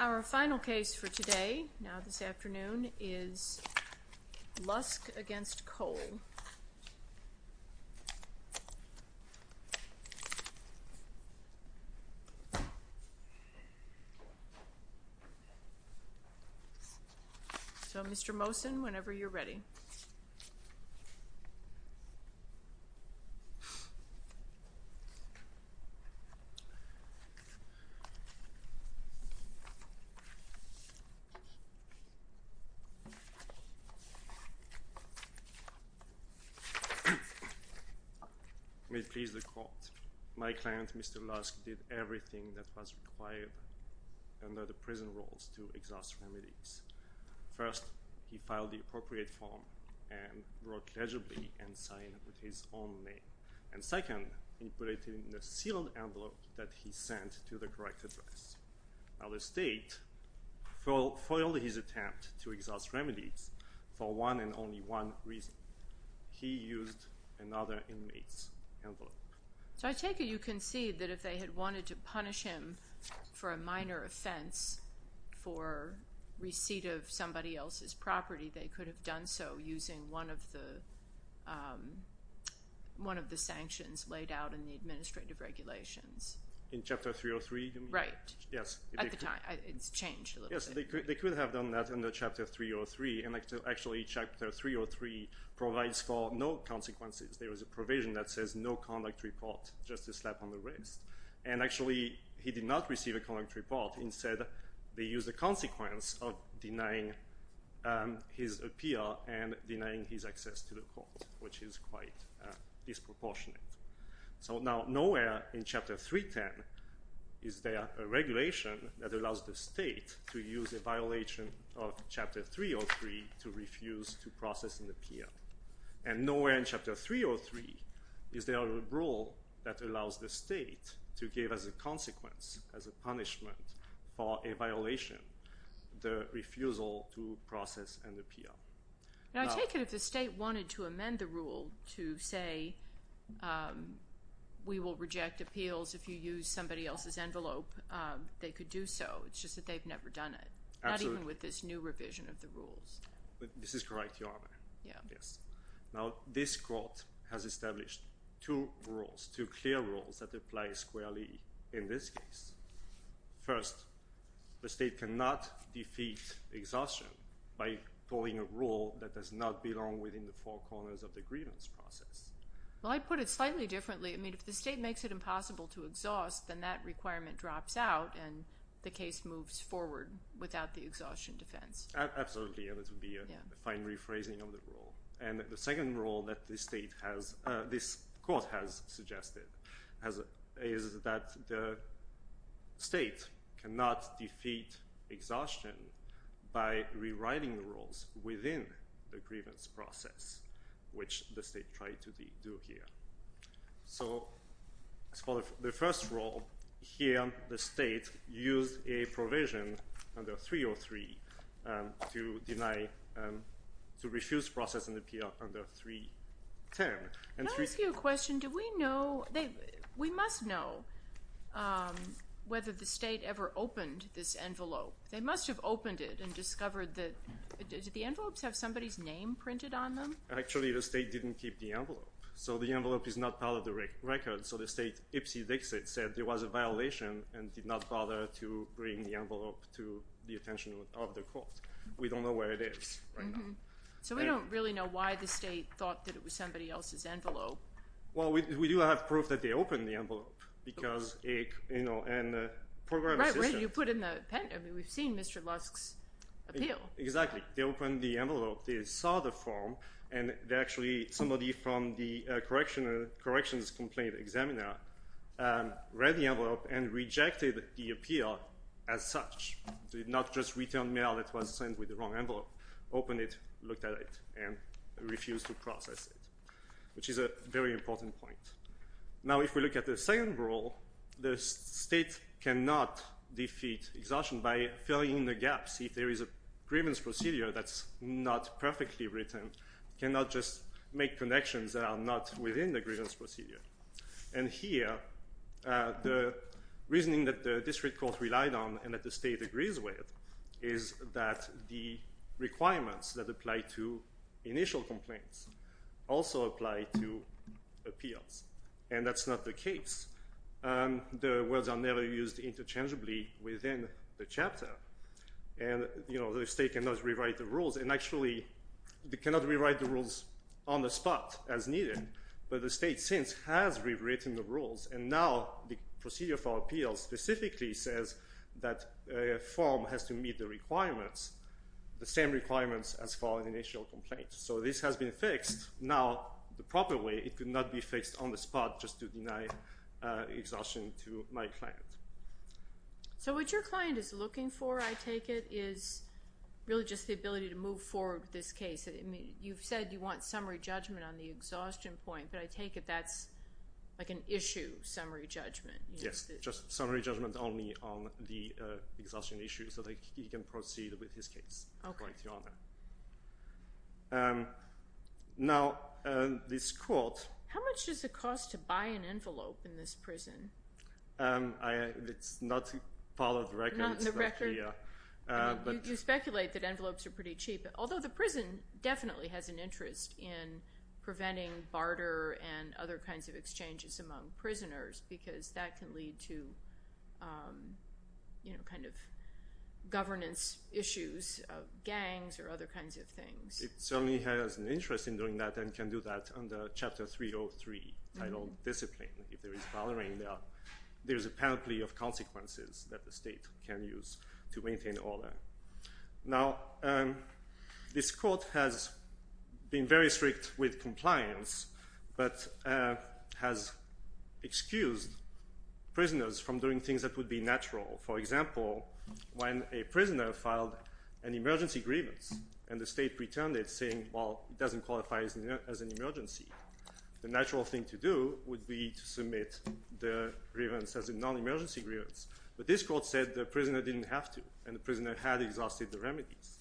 Our final case for today, now this afternoon, is Lusk v. Cole. So, Mr. Mosen, whenever you're ready. May it please the court. My client, Mr. Lusk, did everything that was required under the prison rules to exhaust remedies. First, he filed the appropriate form and wrote legibly and signed with his own name. And second, he put it in a sealed envelope that he sent to the correct address. Now the state foiled his attempt to exhaust remedies for one and only one reason. He used another inmate's envelope. So I take it you concede that if they had wanted to punish him for a minor offense for receipt of somebody else's property, they could have done so using one of the sanctions laid out in the administrative regulations. In Chapter 303? Right. Yes. At the time. It's changed a little bit. Yes. They could have done that in the Chapter 303. And actually, Chapter 303 provides for no consequences. There is a provision that says no conduct report, just a slap on the wrist. And actually, he did not receive a conduct report. Instead, they used the consequence of denying his appeal and denying his access to the court, which is quite disproportionate. So now nowhere in Chapter 310 is there a regulation that allows the state to use a violation of Chapter 303 to refuse to process an appeal. And nowhere in Chapter 303 is there a rule that allows the state to give as a consequence, as a punishment for a violation, the refusal to process an appeal. Now, I take it if the state wanted to amend the rule to say we will reject appeals if you use somebody else's envelope, they could do so. It's just that they've never done it. Absolutely. Not even with this new revision of the rules. This is correct, Your Honor. Yes. Now, this court has established two rules, two clear rules that apply squarely in this case. First, the state cannot defeat exhaustion by pulling a rule that does not belong within the four corners of the grievance process. Well, I'd put it slightly differently. I mean, if the state makes it impossible to exhaust, then that requirement drops out and the case moves forward without the exhaustion defense. Absolutely, and this would be a fine rephrasing of the rule. And the second rule that this court has suggested is that the state cannot defeat exhaustion by rewriting the rules within the grievance process, which the state tried to do here. So the first rule here, the state used a provision under 303 to deny, to refuse processing appeal under 310. Can I ask you a question? Do we know, we must know whether the state ever opened this envelope. They must have opened it and discovered that, did the envelopes have somebody's name printed on them? So the envelope is not part of the record. So the state Ipsy Dixit said there was a violation and did not bother to bring the envelope to the attention of the court. We don't know where it is right now. So we don't really know why the state thought that it was somebody else's envelope. Well, we do have proof that they opened the envelope because, you know, and the program assistant Right, right, you put in the, I mean, we've seen Mr. Lusk's appeal. Exactly. They opened the envelope, they saw the form, and actually somebody from the corrections complaint examiner read the envelope and rejected the appeal as such. Did not just return mail that was sent with the wrong envelope. Opened it, looked at it, and refused to process it, which is a very important point. Now if we look at the second rule, the state cannot defeat exhaustion by filling in the gaps. If there is a grievance procedure that's not perfectly written, cannot just make connections that are not within the grievance procedure. And here, the reasoning that the district court relied on and that the state agrees with is that the requirements that apply to initial complaints also apply to appeals. And that's not the case. The words are never used interchangeably within the chapter. And, you know, the state cannot rewrite the rules. And actually, they cannot rewrite the rules on the spot as needed. But the state since has rewritten the rules, and now the procedure for appeals specifically says that a form has to meet the requirements, the same requirements as for an initial complaint. So this has been fixed. Now, the proper way, it could not be fixed on the spot just to deny exhaustion to my client. So what your client is looking for, I take it, is really just the ability to move forward with this case. You've said you want summary judgment on the exhaustion point, but I take it that's like an issue summary judgment. Yes, just summary judgment only on the exhaustion issue so that he can proceed with his case, according to your honor. Now, this court. How much does it cost to buy an envelope in this prison? It's not part of the record. Not in the record? Yeah. You speculate that envelopes are pretty cheap, although the prison definitely has an interest in preventing barter and other kinds of exchanges among prisoners because that can lead to governance issues of gangs or other kinds of things. It certainly has an interest in doing that and can do that under Chapter 303, titled Discipline. If there is bartering, there is a penalty of consequences that the state can use to maintain order. Now, this court has been very strict with compliance, but has excused prisoners from doing things that would be natural. For example, when a prisoner filed an emergency grievance and the state returned it saying, well, it doesn't qualify as an emergency, the natural thing to do would be to submit the grievance as a non-emergency grievance. But this court said the prisoner didn't have to, and the prisoner had exhausted the remedies.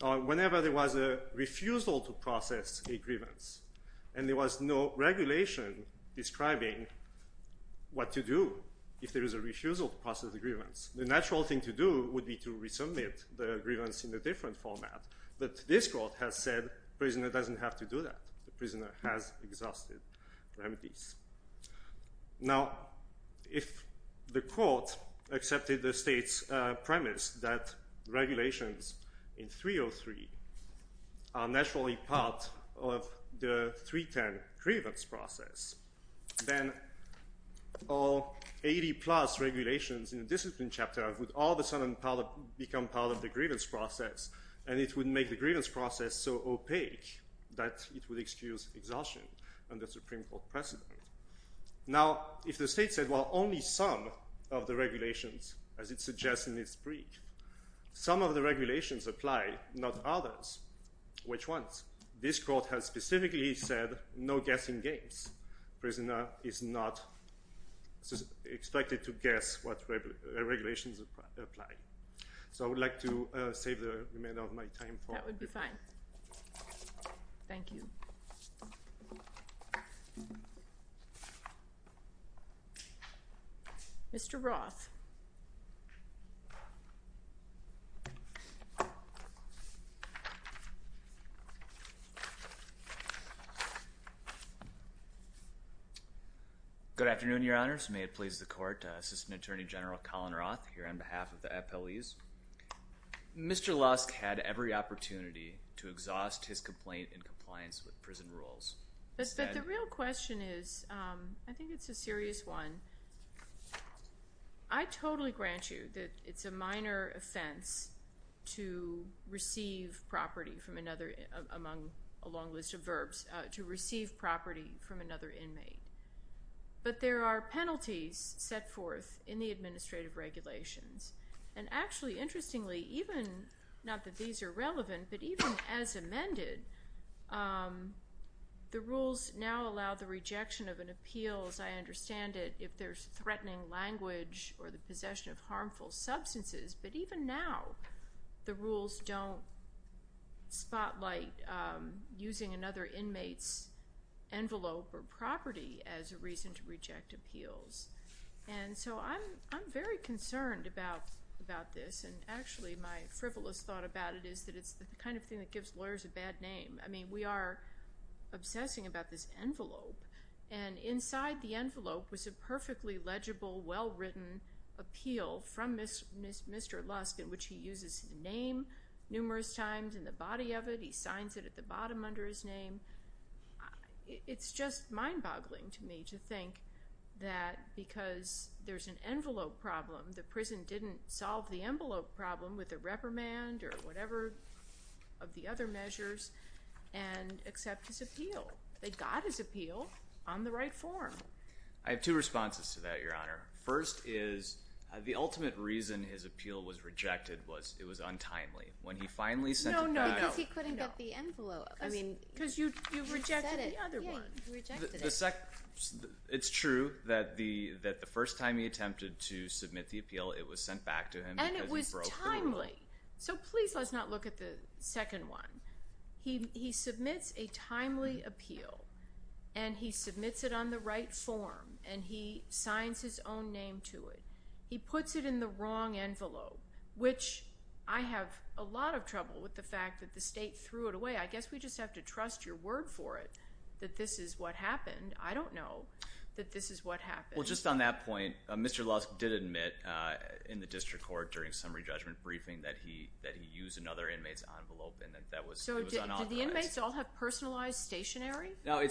Whenever there was a refusal to process a grievance and there was no regulation describing what to do if there was a refusal to process a grievance, the natural thing to do would be to resubmit the grievance in a different format. But this court has said the prisoner doesn't have to do that. The prisoner has exhausted remedies. Now, if the court accepted the state's premise that regulations in 303 are naturally part of the 310 grievance process, then all 80-plus regulations in the discipline chapter would all of a sudden become part of the grievance process, and it would make the grievance process so opaque that it would excuse exhaustion under Supreme Court precedent. Now, if the state said, well, only some of the regulations, as it suggests in its brief, some of the regulations apply, not others, which ones? This court has specifically said no guessing games. Prisoner is not expected to guess what regulations apply. So I would like to save the remainder of my time. That would be fine. Thank you. Mr. Roth. Good afternoon, Your Honors. May it please the Court, Assistant Attorney General Colin Roth here on behalf of the appellees. Mr. Lusk had every opportunity to exhaust his complaint in compliance with prison rules. But the real question is, I think it's a serious one. I totally grant you that it's a minor offense to receive property from another, among a long list of verbs, to receive property from another inmate. But there are penalties set forth in the administrative regulations. And actually, interestingly, even not that these are relevant, but even as amended, the rules now allow the rejection of an appeal, as I understand it, if there's threatening language or the possession of harmful substances. But even now, the rules don't spotlight using another inmate's envelope or property as a reason to reject appeals. And so I'm very concerned about this. And actually, my frivolous thought about it is that it's the kind of thing that gives lawyers a bad name. I mean, we are obsessing about this envelope. And inside the envelope was a perfectly legible, well-written appeal from Mr. Lusk, in which he uses his name numerous times in the body of it. He signs it at the bottom under his name. It's just mind-boggling to me to think that because there's an envelope problem, the prison didn't solve the envelope problem with a reprimand or whatever of the other measures and accept his appeal. They got his appeal on the right form. I have two responses to that, Your Honor. First is the ultimate reason his appeal was rejected was it was untimely. When he finally sent it back out— No, no, no. Because he couldn't get the envelope. I mean— Because you rejected the other one. Yeah, you rejected it. It's true that the first time he attempted to submit the appeal, it was sent back to him because he broke the envelope. And it was timely. So please let's not look at the second one. He submits a timely appeal, and he submits it on the right form, and he signs his own name to it. He puts it in the wrong envelope, which I have a lot of trouble with the fact that the state threw it away. I guess we just have to trust your word for it that this is what happened. I don't know that this is what happened. Well, just on that point, Mr. Lusk did admit in the district court during summary judgment briefing that he used another inmate's envelope and that that was unauthorized. So did the inmates all have personalized stationery? No.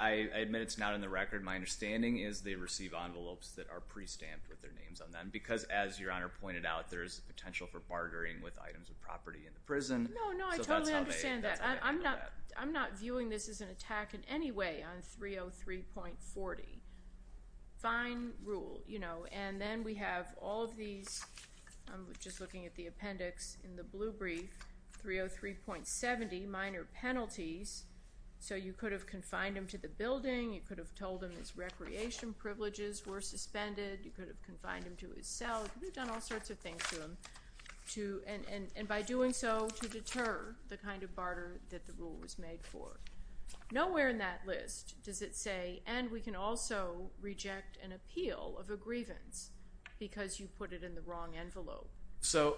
I admit it's not in the record. My understanding is they receive envelopes that are pre-stamped with their names on them because, as Your Honor pointed out, there is potential for bartering with items of property in the prison. No, no. I totally understand that. I'm not viewing this as an attack in any way on 303.40. Fine rule. And then we have all of these, just looking at the appendix in the blue brief, 303.70, minor penalties. So you could have confined him to the building. You could have told him his recreation privileges were suspended. You could have confined him to his cell. You could have done all sorts of things to him. And by doing so, to deter the kind of barter that the rule was made for. Nowhere in that list does it say, and we can also reject an appeal of a grievance because you put it in the wrong envelope. So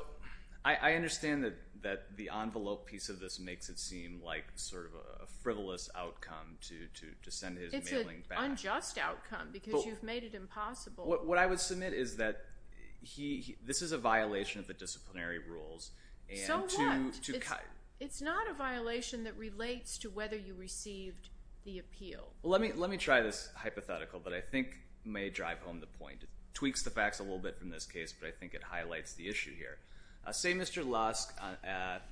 I understand that the envelope piece of this makes it seem like sort of a frivolous outcome to send his mailing back. It's an unjust outcome because you've made it impossible. What I would submit is that this is a violation of the disciplinary rules. So what? It's not a violation that relates to whether you received the appeal. Let me try this hypothetical, but I think it may drive home the point. It tweaks the facts a little bit from this case, but I think it highlights the issue here. Say Mr. Lusk, at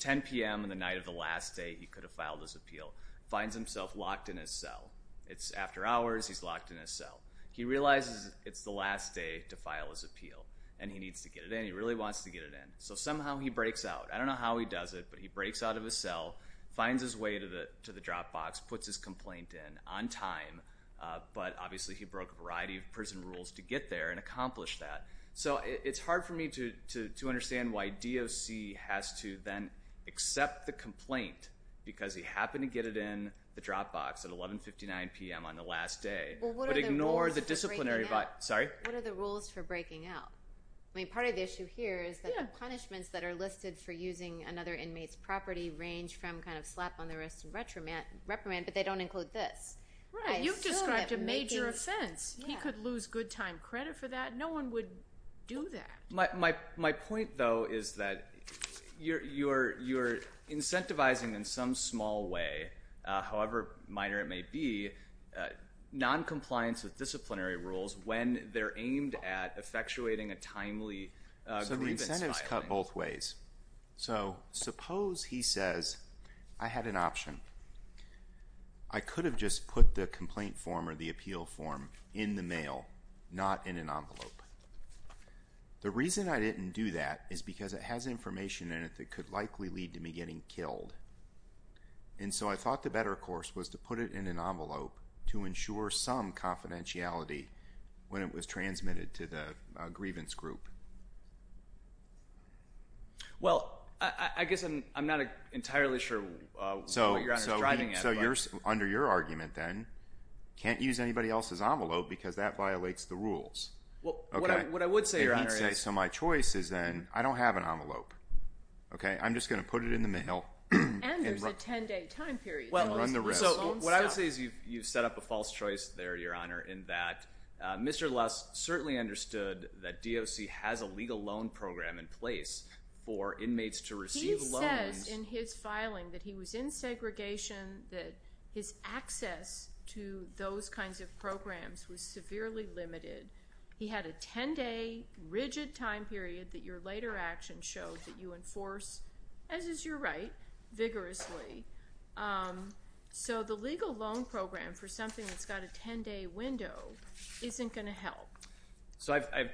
10 p.m. on the night of the last day he could have filed his appeal, finds himself locked in his cell. It's after hours. He's locked in his cell. He realizes it's the last day to file his appeal, and he needs to get it in. He really wants to get it in. So somehow he breaks out. I don't know how he does it, but he breaks out of his cell, finds his way to the Dropbox, puts his complaint in on time. But obviously he broke a variety of prison rules to get there and accomplish that. So it's hard for me to understand why DOC has to then accept the complaint because he happened to get it in the Dropbox at 11.59 p.m. on the last day, but ignore the disciplinary— What are the rules for breaking out? Part of the issue here is that the punishments that are listed for using another inmate's property range from slap on the wrist and reprimand, but they don't include this. You've described a major offense. He could lose good time credit for that. No one would do that. My point, though, is that you're incentivizing in some small way, however minor it may be, noncompliance with disciplinary rules when they're aimed at effectuating a timely grievance filing. So the incentive is cut both ways. So suppose he says, I had an option. I could have just put the complaint form or the appeal form in the mail, not in an envelope. The reason I didn't do that is because it has information in it that could likely lead to me getting killed. And so I thought the better course was to put it in an envelope to ensure some confidentiality when it was transmitted to the grievance group. Well, I guess I'm not entirely sure what Your Honor is driving at. So under your argument, then, can't use anybody else's envelope because that violates the rules. What I would say, Your Honor, is… So my choice is then I don't have an envelope. I'm just going to put it in the mail. And there's a 10-day time period. So what I would say is you've set up a false choice there, Your Honor, in that Mr. Luss certainly understood that DOC has a legal loan program in place for inmates to receive loans. He says in his filing that he was in segregation, that his access to those kinds of programs was severely limited. He had a 10-day rigid time period that your later action showed that you enforce, as is your right, vigorously. So the legal loan program for something that's got a 10-day window isn't going to help. So I have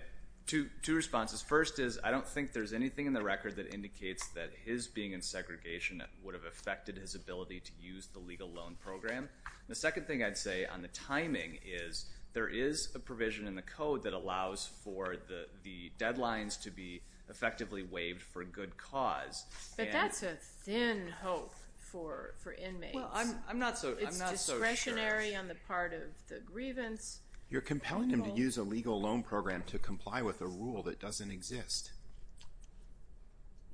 two responses. First is I don't think there's anything in the record that indicates that his being in segregation would have affected his ability to use the legal loan program. The second thing I'd say on the timing is there is a provision in the code that allows for the deadlines to be effectively waived for good cause. But that's a thin hope for inmates. Well, I'm not so sure. It's discretionary on the part of the grievance. You're compelling him to use a legal loan program to comply with a rule that doesn't exist.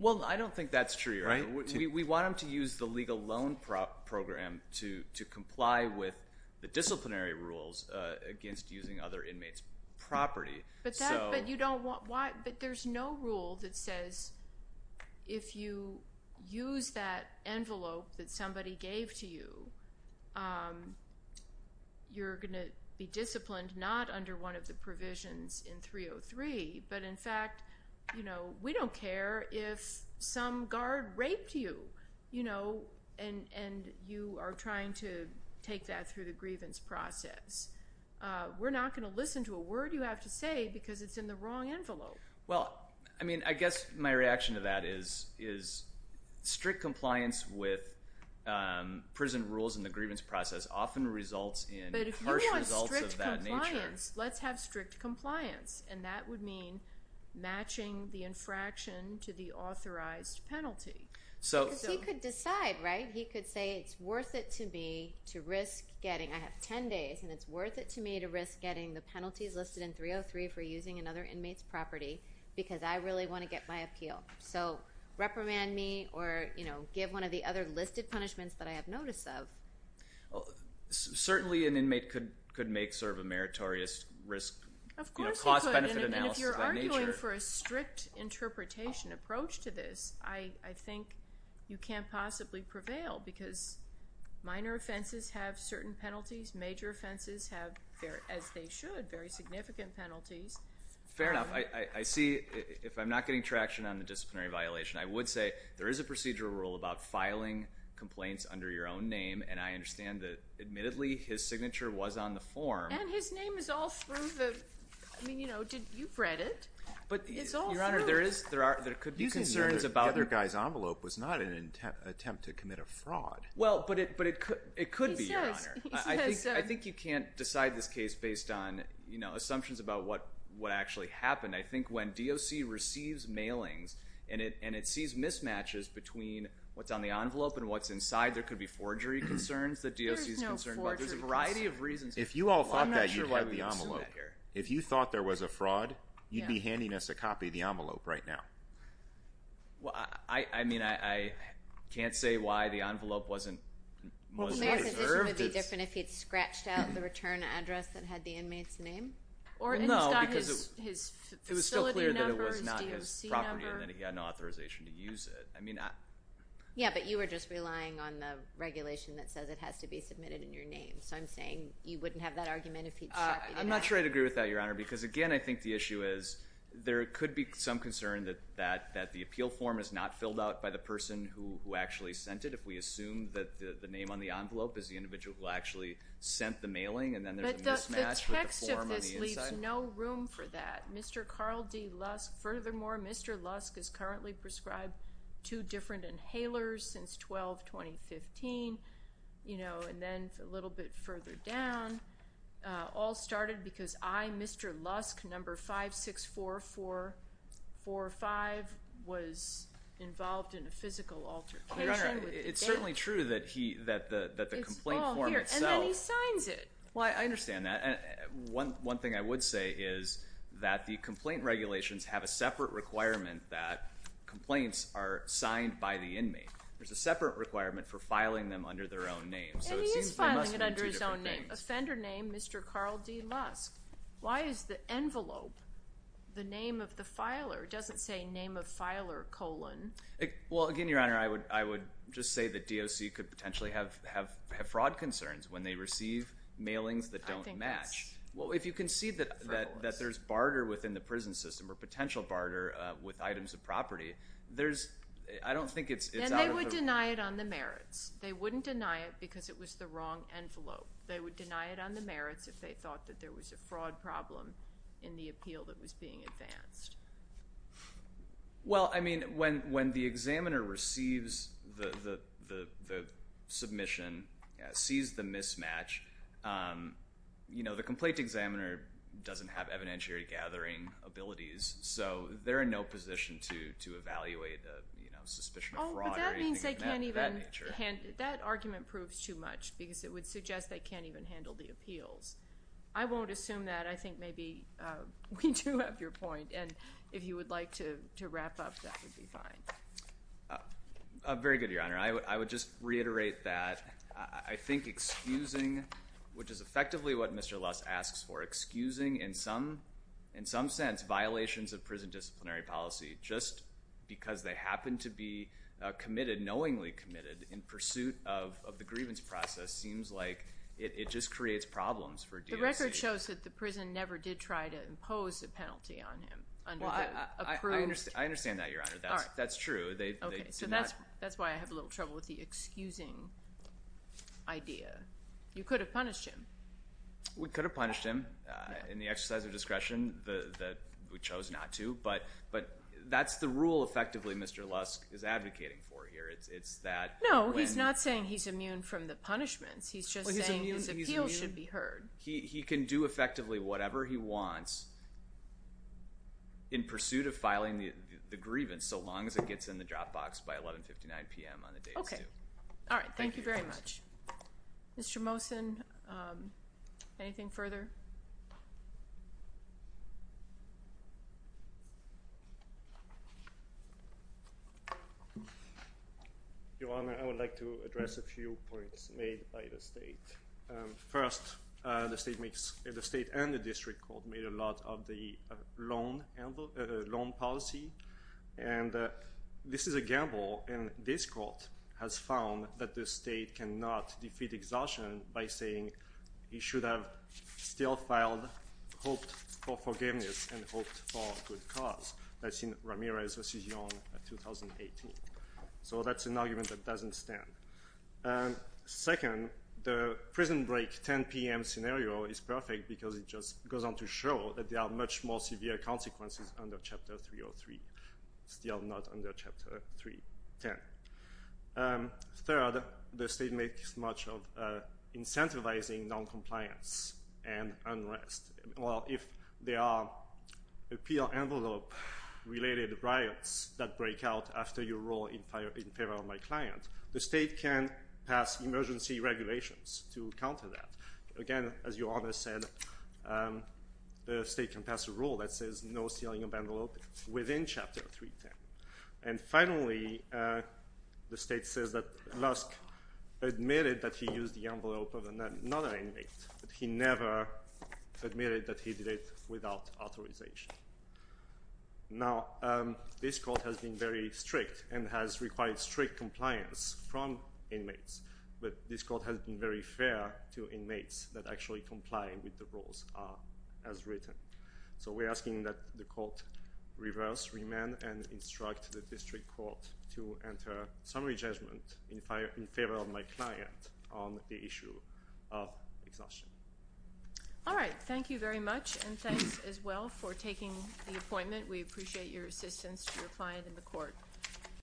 Well, I don't think that's true, Your Honor. We want him to use the legal loan program to comply with the disciplinary rules against using other inmates' property. But there's no rule that says if you use that envelope that somebody gave to you, you're going to be disciplined not under one of the provisions in 303, but in fact, we don't care if some guard raped you and you are trying to take that through the grievance process. We're not going to listen to a word you have to say because it's in the wrong envelope. Well, I mean, I guess my reaction to that is strict compliance with prison rules and the grievance process often results in harsh results of that nature. But if you want strict compliance, let's have strict compliance. And that would mean matching the infraction to the authorized penalty. Because he could decide, right? He could say it's worth it to me to risk getting, I have 10 days, and it's worth it to me to risk getting the penalties listed in 303 for using another inmate's property because I really want to get my appeal. So reprimand me or give one of the other listed punishments that I have notice of. Certainly an inmate could make sort of a meritorious risk cost-benefit analysis of that nature. Of course they could, and if you're arguing for a strict interpretation approach to this, I think you can't possibly prevail because minor offenses have certain penalties. Major offenses have, as they should, very significant penalties. Fair enough. I see if I'm not getting traction on the disciplinary violation, I would say there is a procedural rule about filing complaints under your own name, and I understand that, admittedly, his signature was on the form. And his name is all through the – I mean, you know, you've read it. But, Your Honor, there could be concerns about – Using the other guy's envelope was not an attempt to commit a fraud. Well, but it could be, Your Honor. He says so. I think you can't decide this case based on, you know, assumptions about what actually happened. I think when DOC receives mailings and it sees mismatches between what's on the envelope and what's inside, there could be forgery concerns that DOC is concerned about. There's no forgery. There's a variety of reasons. If you all thought that, you'd have the envelope. I'm not sure why we would assume that here. If you thought there was a fraud, you'd be handing us a copy of the envelope right now. Well, I mean, I can't say why the envelope wasn't reserved. Would it be different if he'd scratched out the return address that had the inmate's name? No, because it was still clear that it was not his property and that he had no authorization to use it. I mean, I – Yeah, but you were just relying on the regulation that says it has to be submitted in your name. So I'm saying you wouldn't have that argument if he'd – I'm not sure I'd agree with that, Your Honor, because, again, I think the issue is there could be some concern that the appeal form is not filled out by the person who actually sent it. If we assume that the name on the envelope is the individual who actually sent the mailing and then there's a mismatch with the form on the inside. But the text of this leaves no room for that. Mr. Carl D. Lusk – furthermore, Mr. Lusk is currently prescribed two different inhalers since 12-2015, you know, and then a little bit further down. All started because I, Mr. Lusk, number 564445, was involved in a physical altercation. Your Honor, it's certainly true that he – that the complaint form itself – It's all here, and then he signs it. Well, I understand that. And one thing I would say is that the complaint regulations have a separate requirement that complaints are signed by the inmate. There's a separate requirement for filing them under their own name. And he is filing it under his own name. Offender name, Mr. Carl D. Lusk. Why is the envelope the name of the filer? It doesn't say name of filer colon. Well, again, Your Honor, I would just say that DOC could potentially have fraud concerns when they receive mailings that don't match. Well, if you can see that there's barter within the prison system or potential barter with items of property, there's – I don't think it's – And they would deny it on the merits. They wouldn't deny it because it was the wrong envelope. They would deny it on the merits if they thought that there was a fraud problem in the appeal that was being advanced. Well, I mean, when the examiner receives the submission, sees the mismatch, you know, the complaint examiner doesn't have evidentiary gathering abilities. So they're in no position to evaluate the, you know, suspicion of fraud or anything of that nature. Oh, but that means they can't even – that argument proves too much because it would suggest they can't even handle the appeals. I won't assume that. I think maybe we do have your point. And if you would like to wrap up, that would be fine. Very good, Your Honor. I would just reiterate that I think excusing, which is effectively what Mr. Luss asks for, excusing in some sense violations of prison disciplinary policy just because they happen to be committed, knowingly committed in pursuit of the grievance process seems like it just creates problems for DOC. The record shows that the prison never did try to impose a penalty on him under the approved – I understand that, Your Honor. That's true. Okay. So that's why I have a little trouble with the excusing idea. You could have punished him. We could have punished him in the exercise of discretion that we chose not to, but that's the rule effectively Mr. Luss is advocating for here. It's that – No, he's not saying he's immune from the punishments. He's just saying his appeals should be heard. He can do effectively whatever he wants in pursuit of filing the grievance so long as it gets in the drop box by 1159 p.m. on the day he's due. Okay. All right. Thank you very much. Thank you, Your Honor. Mr. Mosen, anything further? Your Honor, I would like to address a few points made by the State. First, the State and the District Court made a lot of the loan policy, and this is a gamble, and this Court has found that the State cannot defeat exhaustion by saying he should have still filed hoped for forgiveness and hoped for a good cause. That's in Ramirez v. Young, 2018. So that's an argument that doesn't stand. Second, the prison break 10 p.m. scenario is perfect because it just goes on to show that there are much more severe consequences under Chapter 303, still not under Chapter 310. Third, the State makes much of incentivizing noncompliance and unrest. Well, if there are appeal envelope-related riots that break out after your role in favor of my client, the State can pass emergency regulations to counter that. Again, as Your Honor said, the State can pass a rule that says no stealing of envelope within Chapter 310. And finally, the State says that Lusk admitted that he used the envelope of another inmate, but he never admitted that he did it without authorization. Now, this Court has been very strict and has required strict compliance from inmates, but this Court has been very fair to inmates that actually comply with the rules as written. So we're asking that the Court reverse, remand, and instruct the District Court to enter summary judgment in favor of my client on the issue of exhaustion. All right. Thank you very much, and thanks as well for taking the appointment. We appreciate your assistance to your client in the Court.